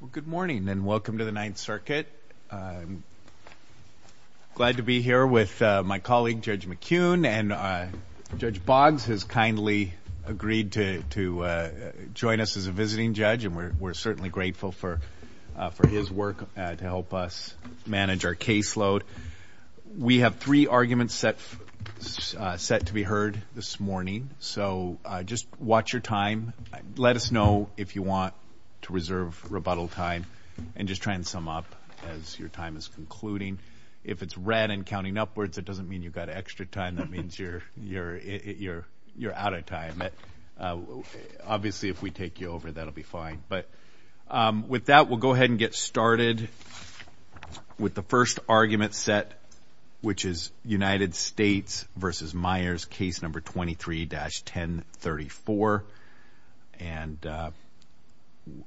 Well good morning and welcome to the Ninth Circuit. I'm glad to be here with my colleague Judge McKeon and Judge Boggs has kindly agreed to join us as a visiting judge and we're certainly grateful for his work to help us manage our caseload. We have three arguments set to be heard this morning so just watch your time. Let us know if you want to reserve rebuttal time and just try and sum up as your time is concluding. If it's red and counting upwards it doesn't mean you've got extra time that means you're you're you're you're out of time. Obviously if we take you over that'll be fine but with that we'll go ahead and get started with the first argument set which is United States v. Myers case number 23-1034 and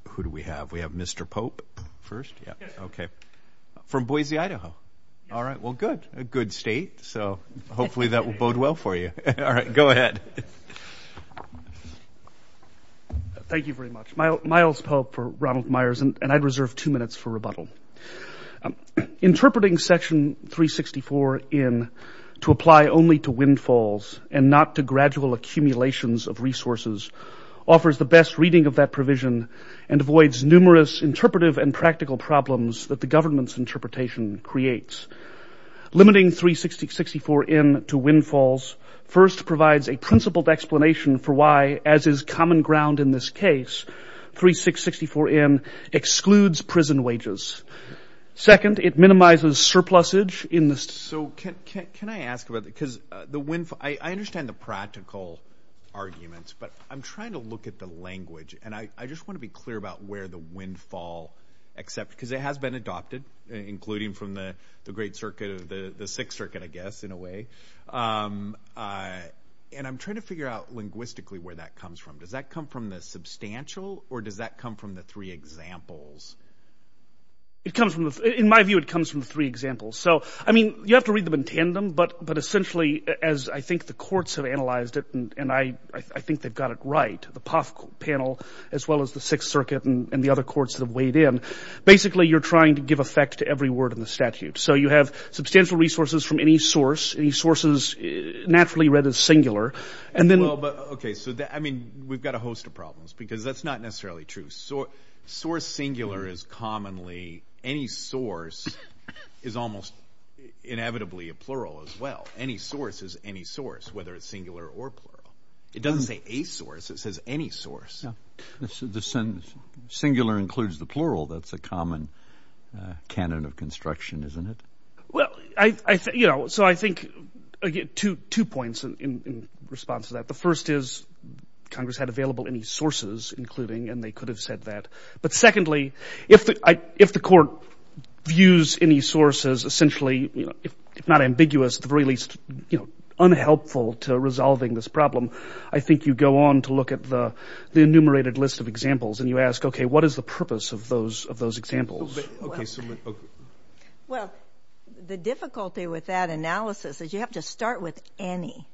who do we have we have Mr. Pope first yeah okay from Boise Idaho all right well good a good state so hopefully that will bode well for you all right go ahead. Thank you very much Myles Pope for Ronald Myers and I'd reserve two minutes for rebuttal Interpreting section 364 in to apply only to windfalls and not to gradual accumulations of resources offers the best reading of that provision and avoids numerous interpretive and practical problems that the government's interpretation creates. Limiting 3664 in to windfalls first provides a principled explanation for why as is common ground in this case 3664 in excludes prison wages. Second it minimizes surplus age in this so can I ask about because the windfall I understand the practical arguments but I'm trying to look at the language and I just want to be clear about where the windfall except because it has been adopted including from the the Great Circuit of the the Sixth Circuit I guess in a way and I'm trying to figure out linguistically where that comes from does that come from the substantial or does that come from the three examples? It comes from in my view it comes from three examples so I mean you have to read them in tandem but but essentially as I think the courts have analyzed it and I I think they've got it right the POF panel as well as the Sixth Circuit and the other courts that have weighed in basically you're trying to give effect to every word in the statute so you have substantial resources from any source any sources naturally read as singular and then okay so that I mean we've got a host of problems because that's not necessarily true so source singular is commonly any source is almost inevitably a plural as well any source is any source whether it's singular or plural it doesn't say a source it says any source. The sentence singular includes the plural that's a common canon of construction isn't it? Well I think you know so I think again two two points in response to that the first is Congress had available any sources including and they could have said that but secondly if I if the court views any sources essentially you know if not ambiguous the very least you know unhelpful to resolving this problem I think you go on to look at the the enumerated list of examples and you ask okay what is the purpose of those of those examples? Well the difficulty with that analysis is you have to start with any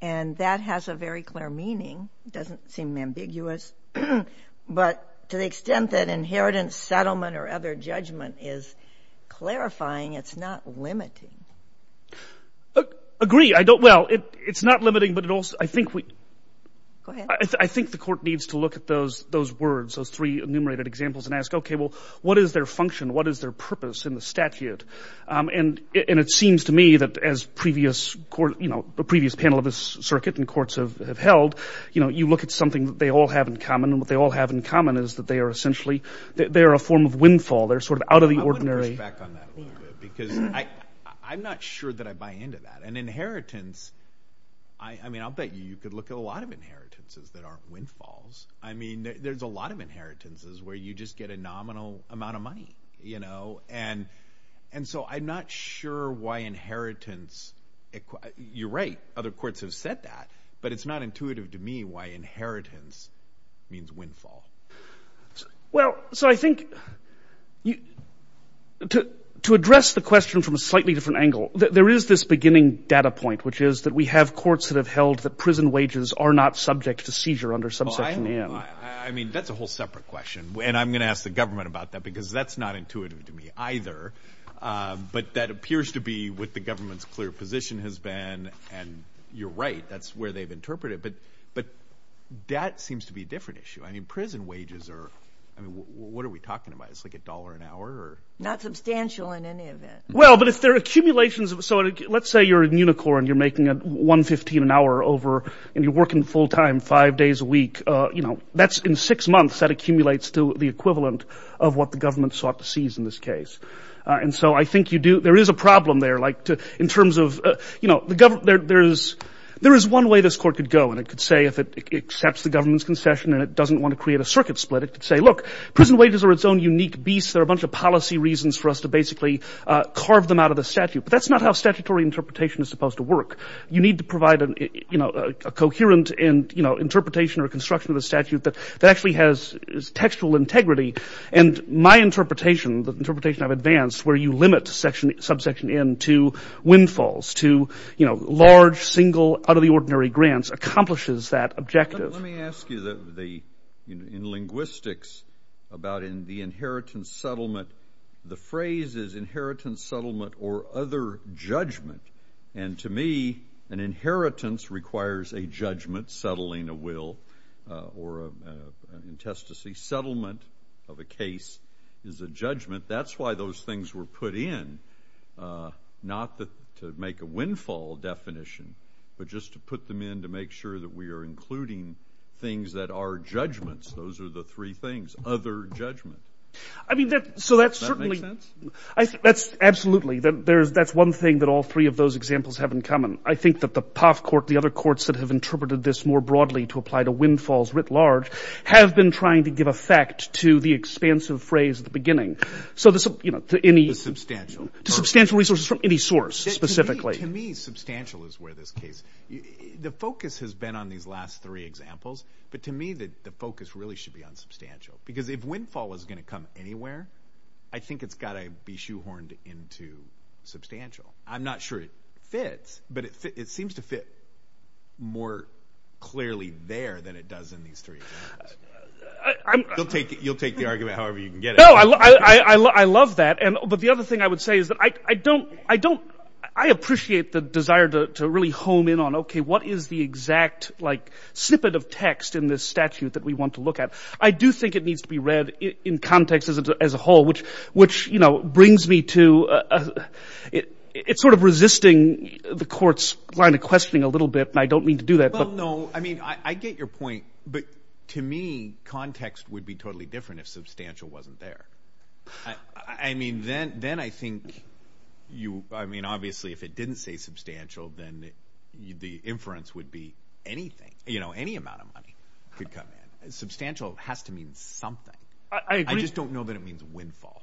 and that has a very clear meaning doesn't seem ambiguous but to the extent that inheritance settlement or other judgment is clarifying it's not limiting. Agree I don't well it it's not limiting but it also I think we I think the court needs to look at those those words those three enumerated examples and ask okay well what is their function what is their purpose in the statute and and it seems to me that as previous court you know the previous panel of this circuit and courts have held you know you look at something that they all have in common and what they all have in common is that they are essentially they're a form of windfall they're sort of out of the ordinary. I'm not sure that I buy into that and inheritance I I mean I'll bet you you could look at a lot of inheritances that aren't windfalls I mean there's a lot of inheritances where you just get a nominal amount of money you know and and so I'm not sure why inheritance you're right other courts have said that but it's not intuitive to me why inheritance means windfall. Well so I think you to to address the question from a slightly different angle there is this beginning data point which is that we have courts that have held that prison wages are not subject to seizure under subsection M. I mean that's a whole separate question and I'm gonna ask the government about that because that's not intuitive to me either but that appears to be what the government's clear position has been and you're right that's where they've interpreted but but that seems to be a different issue I mean prison wages are I mean what are we talking about it's like a dollar an hour? Not substantial in any of it. Well but if they're accumulations of so let's say you're in Unicor and you're making a $1.15 an hour over and you're working full-time five days a week you know that's in six months that accumulates to the equivalent of what the government sought to seize in this case and so I think you do there is a problem there like to in terms of you know the government there's there is one way this court could go and it could say if it accepts the government's concession and it doesn't want to create a circuit split it could say look prison wages are its own unique beasts there are a bunch of policy reasons for us to basically carve them out of the statute but that's not how statutory interpretation is supposed to work you need to provide a you know a coherent and you know interpretation or construction of the statute that that actually has textual integrity and my interpretation the interpretation I've advanced where you limit section subsection in to windfalls to you know large single out-of-the- ordinary grants accomplishes that objective. Let me ask you that the in linguistics about in the inheritance settlement the phrase is inheritance settlement or other judgment and to me an inheritance requires a judgment settling a will or an intestacy settlement of a case is a judgment that's why those things were put in not that to make a windfall definition but just to put them in to make sure that we are including things that are judgments those are the three things other judgment. I mean that so that's certainly that's absolutely that there's that's one thing that all three of those examples have in common I think that the POF court the other courts that have interpreted this more broadly to apply to windfalls writ large have been trying to give effect to the expansive phrase at the beginning so this you know to any substantial substantial resources from any source specifically. To me substantial is where this case the focus has been on these last three examples but to me that the focus really should be on substantial because if windfall was gonna come anywhere I think it's gotta be shoehorned into substantial I'm not sure it fits but it seems to fit more clearly there than it does in these three examples. You'll take the argument however you can get it. I love that and but the other thing I would say is that I don't I don't I appreciate the desire to really home in on okay what is the exact like snippet of text in this statute that we want to look at I do think it needs to be read in context as a whole which which you know brings me to it's sort of resisting the courts line of questioning a little bit and I don't mean to do that. Well no I mean I get your point but to me context would be totally different if substantial wasn't there. I mean then then I think you I mean obviously if it didn't say substantial then the inference would be anything you know any amount of money could come in. Substantial has to mean something. I just don't know that it means windfall.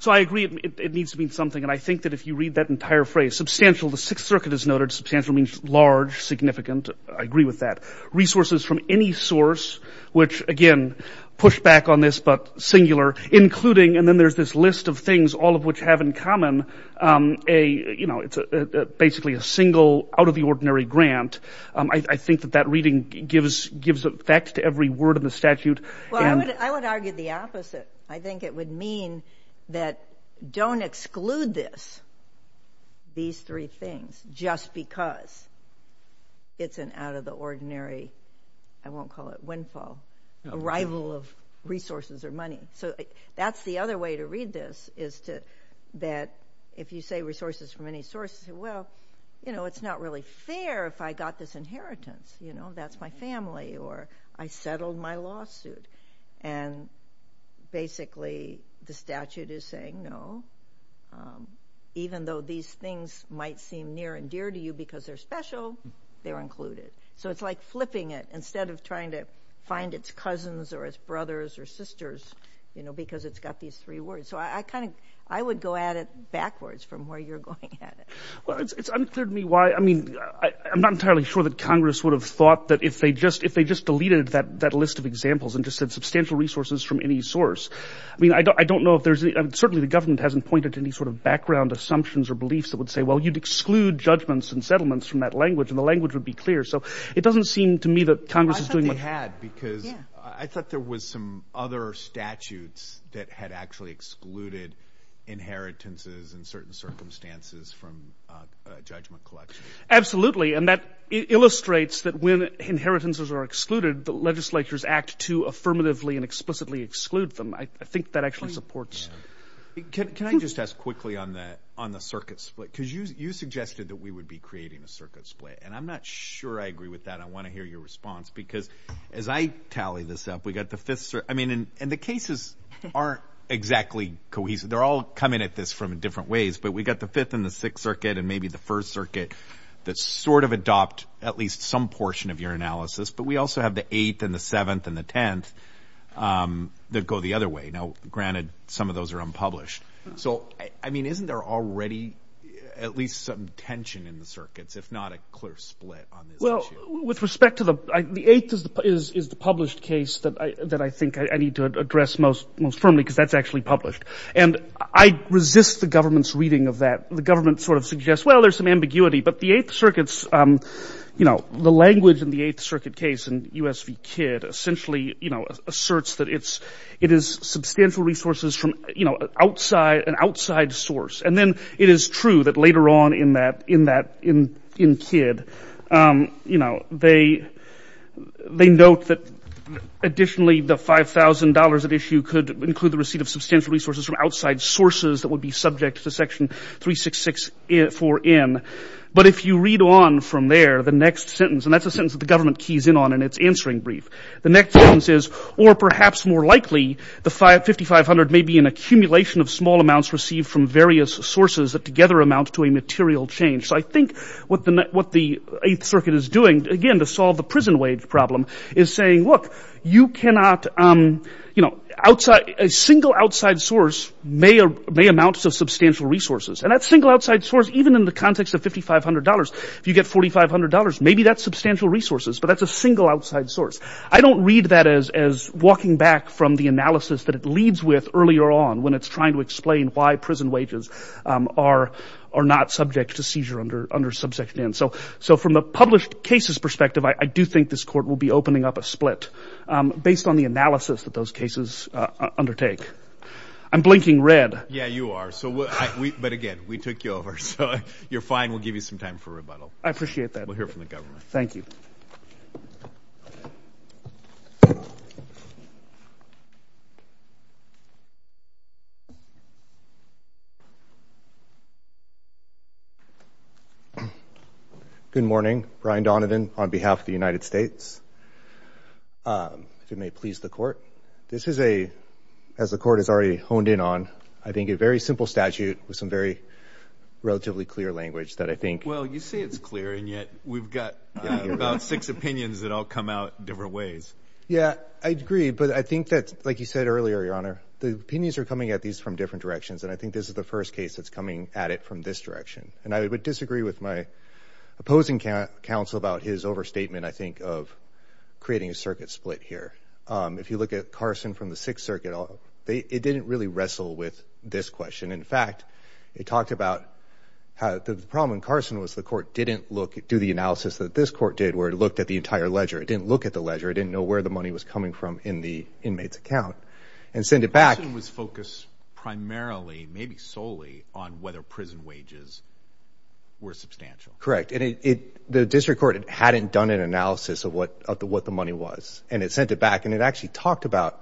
So I agree it needs to mean something and I think that if you read that entire phrase substantial the Sixth Circuit has noted substantial means large significant. I agree with that. Resources from any source which again push back on this but singular including and then there's this list of things all of which have in common a you know it's a basically a single out of the ordinary grant. I think that that reading gives gives effect to every word of the statute. I would argue the opposite. I think it would mean that don't exclude this these three things just because it's an out-of-the-ordinary I won't call it windfall arrival of resources or money. So that's the other way to read this is to that if you say resources from any source well you know it's not really fair if I got this inheritance you know that's my family or I settled my lawsuit and basically the statute is saying no even though these things might seem near and dear to you because they're special they're included. So it's like flipping it instead of trying to find its cousins or its brothers or sisters you know because it's got these three words. So I kind of I would go at it backwards from where you're going at it. Well it's unclear to me why I mean I'm not entirely sure that Congress would have thought that if they just if they just deleted that that list of examples and just said substantial resources from any source. I mean I don't know if there's certainly the government hasn't pointed to any sort of background assumptions or beliefs that would say well you'd exclude judgments and settlements from that language and the language would be clear. So it doesn't seem to me that Congress is doing what they had. Because I thought there was some other statutes that had actually excluded inheritances in certain circumstances from judgment collection. Absolutely and that illustrates that when inheritances are excluded the legislature's act to affirmatively and explicitly exclude them. I think that actually supports. Can I just ask quickly on the on the circuit split because you suggested that we would be creating a circuit split and I'm not sure I agree with that. I want to hear your response because as I tally this up we got the fifth circuit. I mean and the cases aren't exactly cohesive. They're all coming at this from different ways but we got the fifth and the sixth circuit and maybe the first circuit that sort of adopt at least some portion of your analysis but we also have the eighth and the seventh and the tenth that go the other way. Now granted some of those are unpublished. So I mean isn't there already at least some tension in the circuits if not a clear split? Well with respect to the eighth is the published case that I think I need to address most firmly because that's actually published and I resist the government's reading of that. The ambiguity but the Eighth Circuit's you know the language in the Eighth Circuit case and USV Kidd essentially you know asserts that it's it is substantial resources from you know outside an outside source and then it is true that later on in that in that in Kidd you know they they note that additionally the $5,000 at issue could include the receipt of substantial resources from outside sources that would be subject to section 366 for in but if you read on from there the next sentence and that's a sentence that the government keys in on and it's answering brief. The next sentence is or perhaps more likely the five fifty five hundred may be an accumulation of small amounts received from various sources that together amount to a material change. So I think what the what the Eighth Circuit is doing again to solve the prison wage problem is saying look you cannot you know outside a single outside source may amounts of substantial resources and that single outside source even in the context of $5,500 if you get $4,500 maybe that's substantial resources but that's a single outside source. I don't read that as as walking back from the analysis that it leads with earlier on when it's trying to explain why prison wages are are not subject to seizure under under subsection n. So so from a published cases perspective I do think this court will be opening up a split based on the analysis that those cases undertake. I'm blinking red. Yeah you are so what we but again we took you over so you're fine we'll give you some time for rebuttal. I appreciate that. We'll hear from the government. Thank you. Good morning. Brian Donovan on behalf of the United States. If you may please the court. This is a as the court has already honed in on I think a very simple statute with some very relatively clear language that I think. Well you say it's clear and yet we've got about six opinions that all come out different ways. Yeah I agree but I think that's like you said earlier your honor the opinions are coming at these from different directions and I think this is the first case that's coming at it from this direction and I would disagree with my opposing counsel about his overstatement I think of creating a circuit split here. If you look at Carson from the Sixth Circuit it didn't really wrestle with this question. In fact it talked about how the problem in Carson was the court didn't look do the analysis that this court did where it looked at the entire ledger. It didn't look at the ledger. It didn't know where the money was coming from in the inmate's account and send it back. It was focused primarily maybe solely on whether prison wages were substantial. Correct and it the district court hadn't done an analysis of what of the what the money was and it sent it back and it actually talked about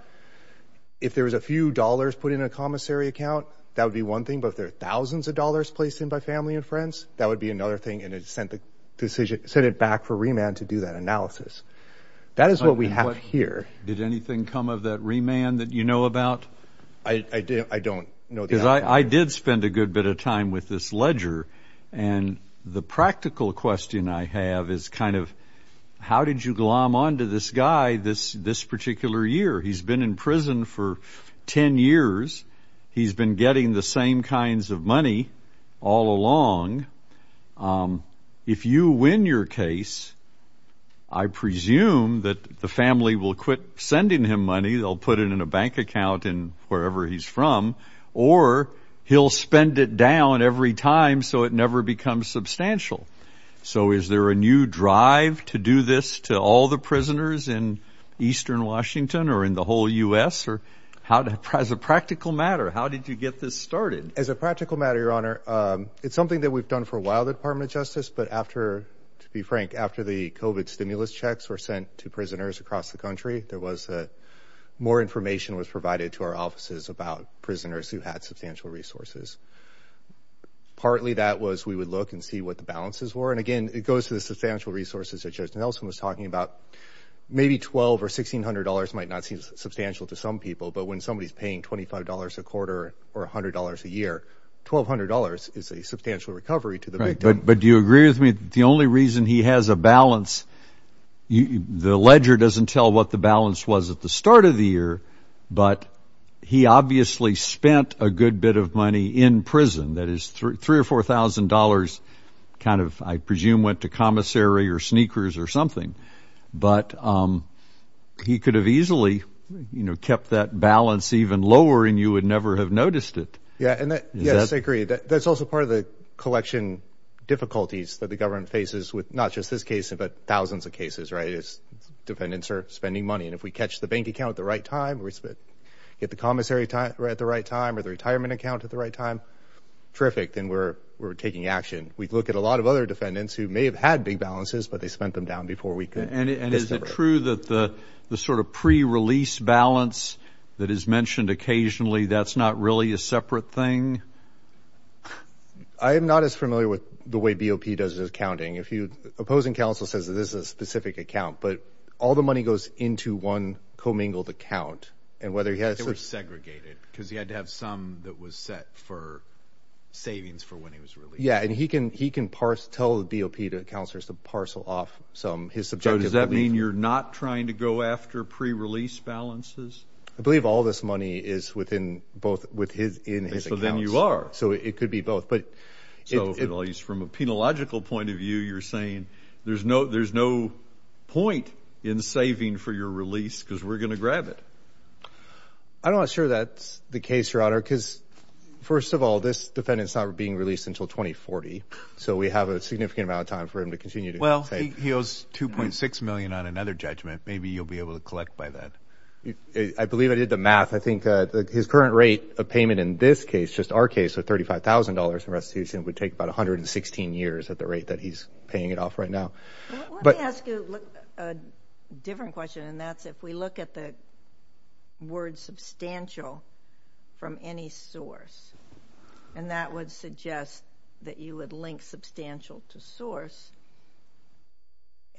if there was a few dollars put in a commissary account that would be one thing but if there are would be another thing and it sent the decision sent it back for remand to do that analysis. That is what we have here. Did anything come of that remand that you know about? I don't know. Because I did spend a good bit of time with this ledger and the practical question I have is kind of how did you glom on to this guy this this particular year? He's been in prison for ten years. He's been getting the same kinds of money all along. If you win your case, I presume that the family will quit sending him money. They'll put it in a bank account and wherever he's from or he'll spend it down every time so it never becomes substantial. So is there a new drive to do this to all the prisoners in eastern Washington or in the whole US or how to prize a practical matter? How did you get this started? As a practical matter, your honor, it's something that we've done for a while the Department of Justice but after to be frank after the COVID stimulus checks were sent to prisoners across the country there was more information was provided to our offices about prisoners who had substantial resources. Partly that was we would look and see what the balances were and again it goes to the substantial resources that Judge Nelson was talking about. Maybe twelve or sixteen hundred dollars might not seem substantial to some people but when somebody's paying $25 a quarter or $100 a year, $1,200 is a substantial recovery to the victim. But do you agree with me the only reason he has a balance, the ledger doesn't tell what the balance was at the start of the year but he obviously spent a good bit of money in prison that is three or four thousand dollars kind of I presume went to commissary or sneakers or something but he could have easily you know kept that balance even lower and you would never have noticed it. Yeah and yes I agree that's also part of the collection difficulties that the government faces with not just this case but thousands of cases right as defendants are spending money and if we catch the bank account at the right time or get the commissary at the right time or the retirement account at the right time, terrific then we're taking action. We look at a lot of other defendants who may have had big balances but they spent them down before we could. And is it true that the the sort of pre-release balance that is mentioned occasionally that's not really a separate thing? I am not as familiar with the way BOP does his accounting. If you opposing counsel says that this is a specific account but all the money goes into one commingled account and whether he has segregated because he had to have some that was set for savings for when he was released. Yeah and he can he can tell the BOP to counselors to parcel off some his subjective. Does that mean you're not trying to go after pre-release balances? I believe all this money is within both with his in his account. So then you are. So it could be both but. So at least from a penological point of view you're saying there's no there's no point in saving for your release because we're gonna grab it. I'm not sure that's the case your honor because first of all this defendants not being released until 2040 so we have a significant amount of time for him to continue. Well he owes 2.6 million on another judgment maybe you'll be able to collect by that. I believe I did the math I think that his current rate of payment in this case just our case of $35,000 in restitution would take about a hundred and sixteen years at the rate that he's paying it off right now. Let me ask you a different question and that's if we look at the word substantial from any source and that would suggest that you would link substantial to source.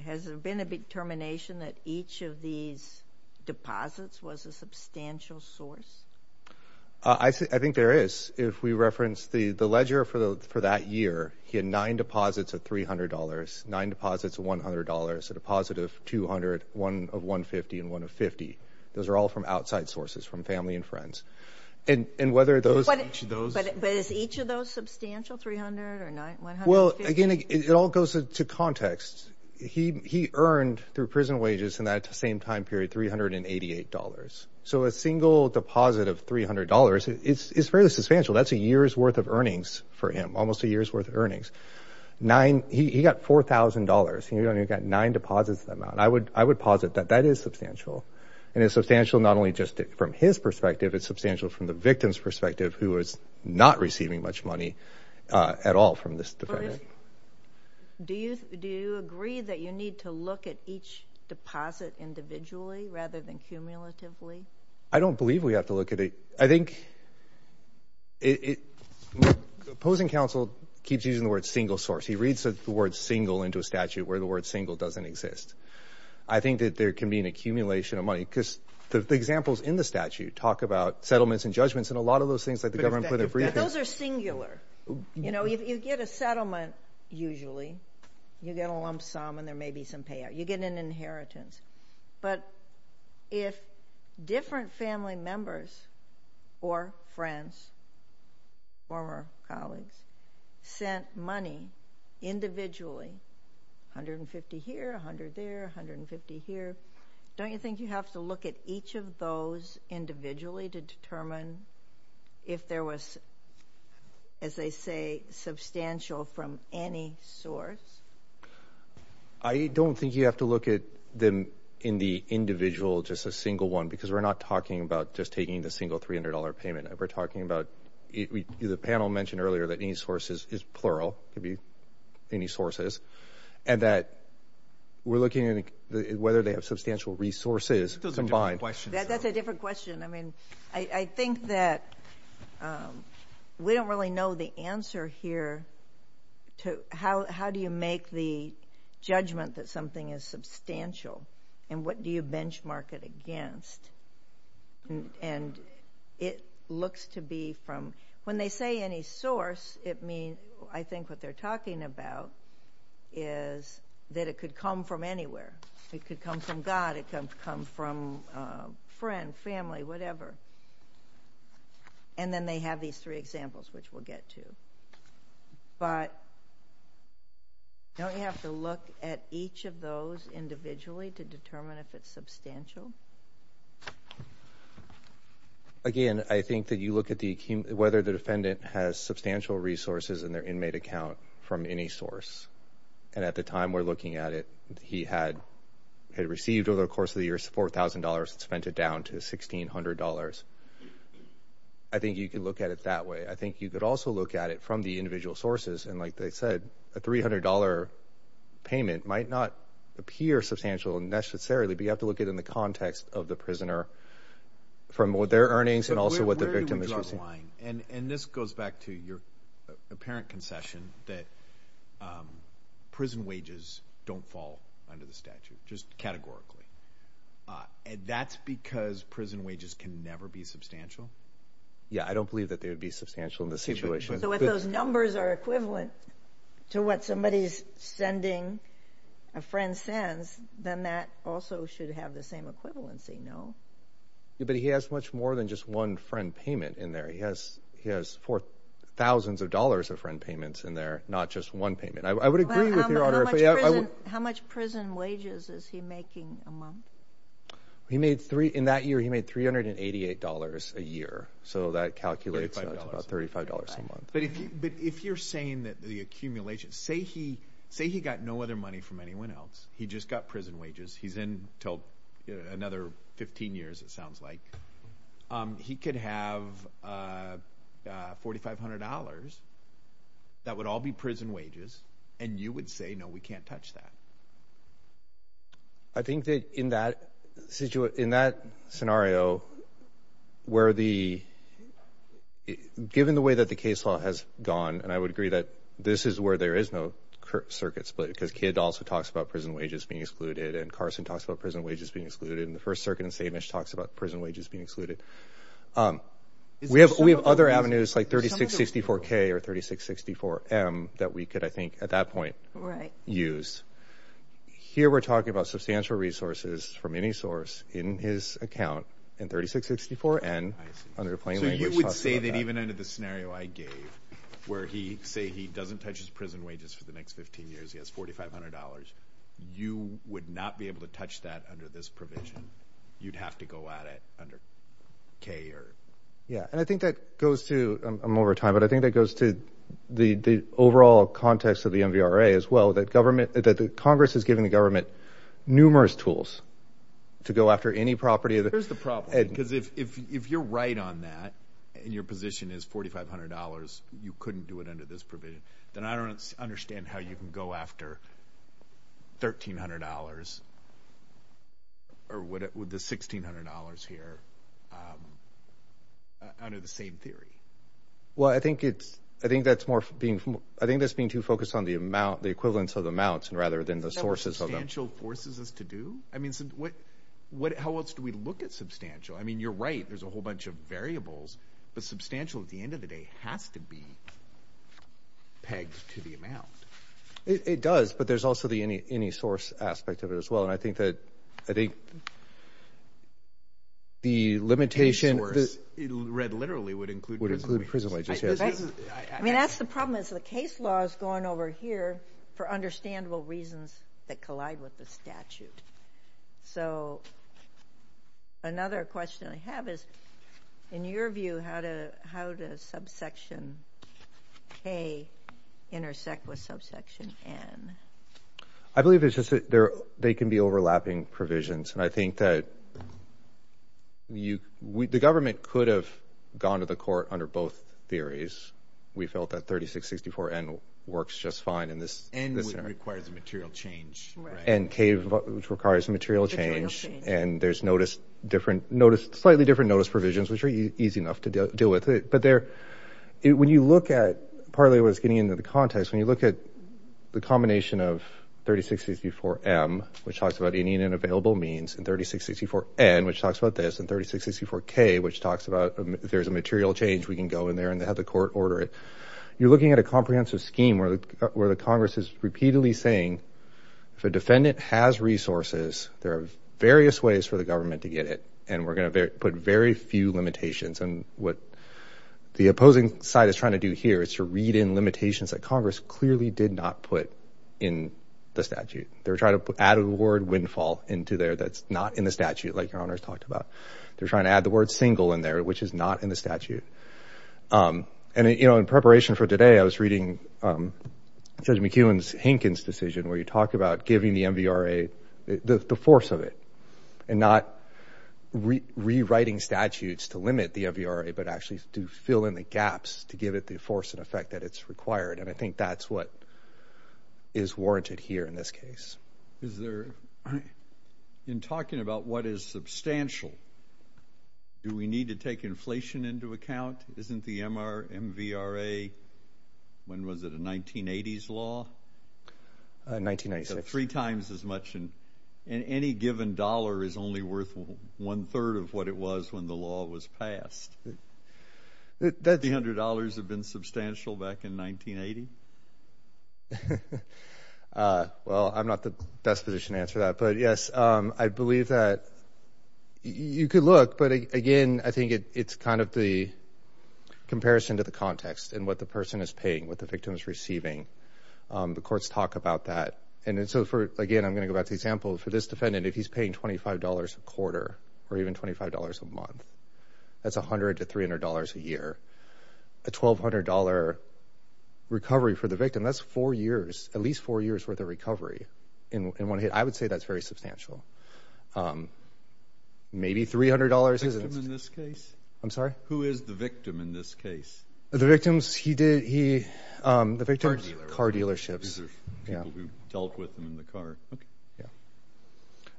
Has there been a determination that each of these deposits was a substantial source? I think there is if we reference the the ledger for the for that year he had nine deposits of $300, nine deposits of $100, a deposit of $200, one of $150, and one of $50. Those are all from outside sources from family and friends and and whether those. But is each of those substantial $300 or $150? Well again it all goes to context he he earned through prison wages in that same time period $388 so a single deposit of $300 it's fairly substantial that's a year's worth of earnings for him almost a year's worth of earnings. Nine he got $4,000 he only got nine deposits of that amount. I would I would posit that that is substantial and it's substantial not only just from his perspective it's substantial from the victim's perspective who is not receiving much money at all from this defendant. Do you do agree that you need to look at each deposit individually rather than cumulatively? I don't believe we have to look at it I think it opposing counsel keeps using the word single source he reads the word single into a statute where the word single doesn't exist. I think that there can be an accumulation of money because the examples in the statute talk about settlements and judgments and a lot of those things like the government put in briefings. Those are singular you know if you get a settlement usually you get a lump sum and there may be some payout you get an inheritance but if different family members or friends former colleagues sent money individually 150 here 100 there 150 here don't you think you have to look at each of those individually to determine if there was as they say substantial from any source? I don't think you have to look at them in the individual just a single one because we're not talking about just taking the single $300 payment we're talking about the panel mentioned earlier that any sources is plural to be any sources and that we're looking at whether they have substantial resources combined. That's a different question I mean I think that we don't really know the answer here to how do you make the judgment that something is substantial and what do you benchmark it against and it looks to be from when they say any source it means I think what they're talking about is that it could come from anywhere it could come from God it can come from friend family whatever and then they have these three examples which we'll get to but don't you have to look at each of those individually to determine if it's substantial? Again I think that you look at the whether the defendant has substantial resources in their inmate account from any source and at the time we're looking at it he had had received over the course of the years $4,000 spent it down to $1,600. I think you can look at it that way I think you could also look at it from the individual sources and like they said a $300 payment might not appear substantial necessarily but you have to look at in the context of the prisoner from what their earnings and also what the victim is using. And this goes back to your apparent concession that prison wages don't fall under the statute just categorically and that's because prison wages can never be substantial? Yeah I don't believe that they would be substantial in this situation. So if those numbers are equivalent to what somebody's sending a friend sends then that also should have the same equivalency no? Yeah but he has much more than just one friend payment in there he has he has four thousands of dollars of friend payments in there not just one payment. I would agree with your honor. How much prison wages is he making a month? He made three in that year he made three hundred and eighty eight dollars a year so that calculates about thirty five dollars a month. But if you're saying that the accumulation say he say he got no other money from anyone else he just got prison wages he's in till another 15 years it sounds like. He could have forty five hundred dollars that would all be prison wages and you would say no we can't touch that. I think that in that situation in that scenario where the given the way that the case law has gone and I would agree that this is where there is no circuit split because Kidd also talks about prison wages being excluded and Carson talks about prison wages being excluded and the First Circuit in St. Mitch talks about prison wages being excluded. We have we have other avenues like 3664 K or 3664 M that we could I think at that point right use. Here we're talking about substantial resources from any source in his account and 3664 N under the plain language. So you would say that even under the scenario I gave where he say he doesn't touch his prison wages for the next 15 years he has $4,500 you would not be able to touch that under this provision you'd have to go at it under K or. Yeah and I think that goes to I'm over time but I think that goes to the the overall context of the MVRA as well that government that the Congress is giving the government numerous tools to go after any property. There's the problem because if if you're right on that and your position is $4,500 you couldn't do it under this provision then I don't understand how you can go after $1,300 or would it with the $1,600 here under the same theory. Well I think it's I think that's more being from I think that's being too focused on the amount the equivalence of the mounts and rather than the sources of substantial forces us to do I mean what what how else do we look at substantial I mean you're right there's a whole bunch of variables but substantial at the end of the day has to be pegged to the amount. It does but there's also the any any source aspect of it as well and I think that I think the limitation it read literally would include prison wages. I mean that's the problem is the case law is going over here for understandable reasons that collide with the statute. So another question I have is in your view how to how does subsection K intersect with subsection N? I believe it's just that there they can be overlapping provisions and I think that you the government could have gone to the court under both theories. We felt that 3664 N works just fine in this and this requires a material change and K which requires a material change and there's notice different notice slightly different notice provisions which are easy enough to deal with it but there when you look at partly what's getting into the context when you look at the combination of 3664 M which talks about Indian available means and 3664 N which talks about this and 3664 K which talks about there's a material change we can go in there and have the court order it. You're looking at a comprehensive scheme where the Congress is repeatedly saying if a and we're gonna put very few limitations and what the opposing side is trying to do here is to read in limitations that Congress clearly did not put in the statute. They're trying to put out a word windfall into there that's not in the statute like your honors talked about. They're trying to add the word single in there which is not in the statute and you know in preparation for today I was reading Judge McEwen's Hankins decision where you talk about giving the MVRA the force of it and not rewriting statutes to limit the MVRA but actually to fill in the gaps to give it the force and effect that it's required and I think that's what is warranted here in this case. Is there in talking about what is substantial do we need to take inflation into account? Isn't the MVRA when was it a 1980s law? 1996. So three times as much and any given dollar is only worth one-third of what it was when the law was passed. The $300 have been substantial back in 1980? Well I'm not the best position answer that but yes I believe that you could look but again I think it's kind of the comparison to the context and what the person is paying what the victim is receiving. The courts talk about that and so for again I'm gonna go back to example for this defendant if he's paying $25 a quarter or even $25 a month that's a hundred to three hundred dollars a year. A twelve hundred dollar recovery for the victim that's four years at least four years worth of recovery in one hit. I would say that's very substantial. Maybe three hundred dollars. I'm sorry? Who is the victim in this case? The victims he did he the victims car dealerships. And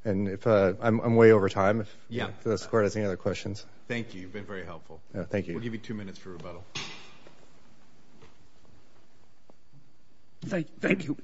I'm way over time. Yeah. Does the court have any other questions? Thank you. You've been very helpful. Thank you. We'll give you two minutes for rebuttal. Thank you.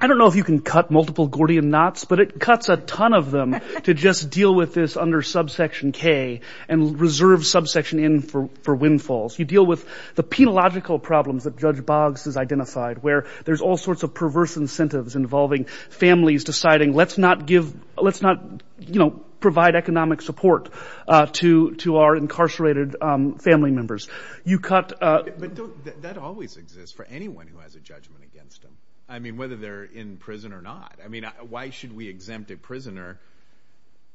I don't know if you can cut multiple Gordian knots but it cuts a ton of them to just deal with this under subsection K and reserve subsection N for for windfalls. You deal with the penological problems that Judge Boggs has identified where there's all sorts of perverse incentives involving families deciding let's not give let's not you know provide economic support to to our incarcerated family members. You cut. That always exists for anyone who has a judgment against them. I mean whether they're in prison or not. I mean why should we exempt a prisoner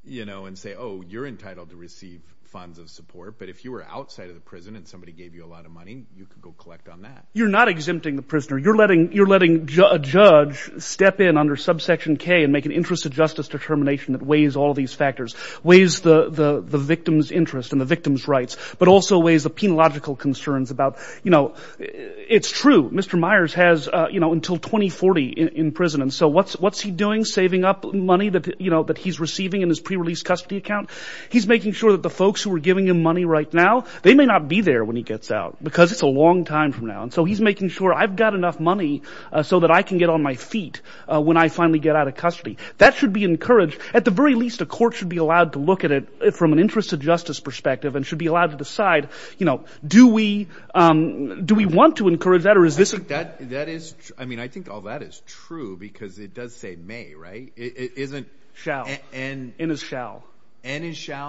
you know and say oh you're entitled to receive funds of support but if you were outside of the prison and somebody gave you a lot of money you could go collect on that. You're not exempting the prisoner. You're letting you're letting a judge step in under subsection K and make an interest of justice determination that weighs all these factors. Weighs the the victim's interest and the victim's rights but also weighs the penological concerns about you know it's true Mr. Myers has you know until 2040 in prison and so what's what's he doing saving up money that you know that he's receiving in his pre-release custody account. He's making sure that the folks who are giving him money right now they may not be there when he gets out because it's a long time from now and so he's making sure I've got enough money so that I can get on my feet when I finally get out of custody. That should be encouraged. At the very least a court should be allowed to look at it from an interest of justice perspective and should be allowed to decide you know do we do we want to encourage that or is this. I think that that is I mean I think all that is true because it does say may right it isn't shall and in his shall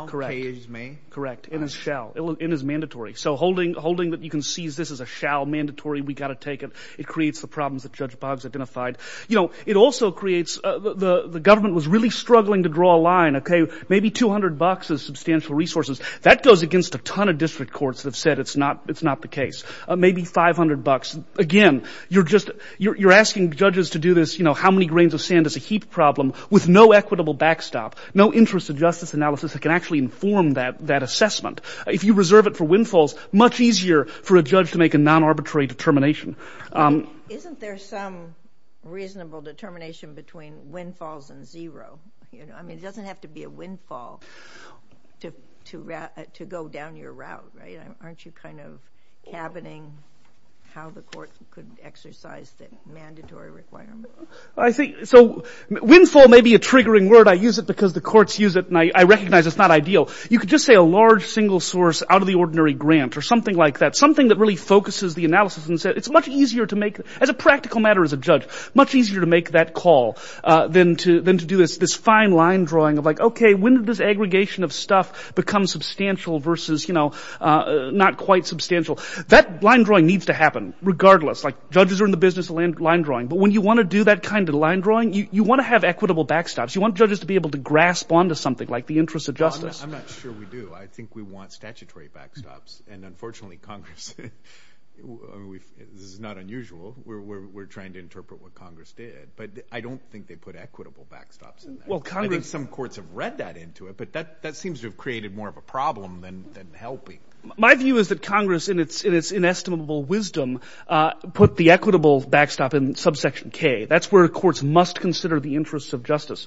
correct correct in his shall in his mandatory so holding holding that you can seize this as a shall mandatory we got to take it it creates the problems that Judge Boggs identified you know it also creates the the government was really struggling to draw a line okay maybe 200 bucks as substantial resources that goes against a ton of district courts have said it's not it's not the case maybe 500 bucks again you're just you're asking judges to do this you know how many grains of sand is a heap problem with no equitable backstop no interest of justice analysis that can actually inform that that assessment if you reserve it for windfalls much easier for a judge to make a non-arbitrary determination. Isn't there some reasonable determination between windfalls and zero you know I mean it doesn't have to be a windfall to to go down your route right aren't you kind of cabining how the court could exercise that mandatory requirement. I think so windfall may be a triggering word I use it because the courts use it and I recognize it's not ideal you could just say a large single source out of the ordinary grant or something like that something that really focuses the analysis and said it's much easier to make as a practical matter as a judge much easier to make that call then to then to do this this fine line drawing of like okay when did this aggregation of stuff become substantial versus you know not quite substantial that line drawing needs to happen regardless like judges are in the business of land line drawing but when you want to do that kind of line drawing you want to have equitable backstops you want judges to be able to grasp onto something like the interest of justice. I'm not sure we do I think we want statutory backstops and unfortunately Congress this is not unusual we're trying to interpret what Congress did but I don't think they put equitable backstops well Congress some courts have read that into it but that that seems to have created more of a problem than helping. My view is that Congress in its in its inestimable wisdom put the equitable backstop in subsection K that's where courts must consider the interests of justice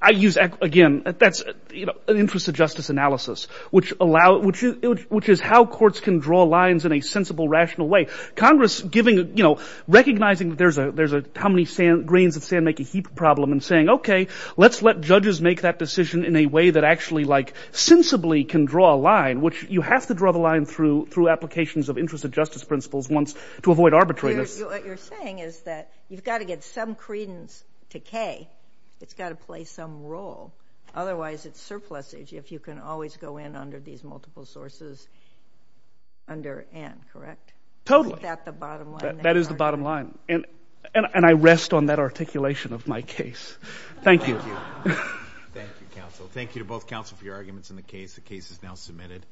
I use again that's an interest of justice analysis which allow which is how courts can draw lines in a sensible rational way Congress giving you know recognizing that there's a there's a how many sand grains of sand make a heap problem and saying okay let's let judges make that decision in a way that actually like sensibly can draw a line which you have to draw the line through through applications of interest of justice principles once to avoid arbitrators. What you're saying is that you've got to get some credence to K it's got to play some role otherwise it's surplus age if you can always go in under these multiple sources under N correct? Totally that is the bottom line and and I rest on that articulation of my case. Thank you. Thank you to both counsel for your arguments in the case the case is now submitted.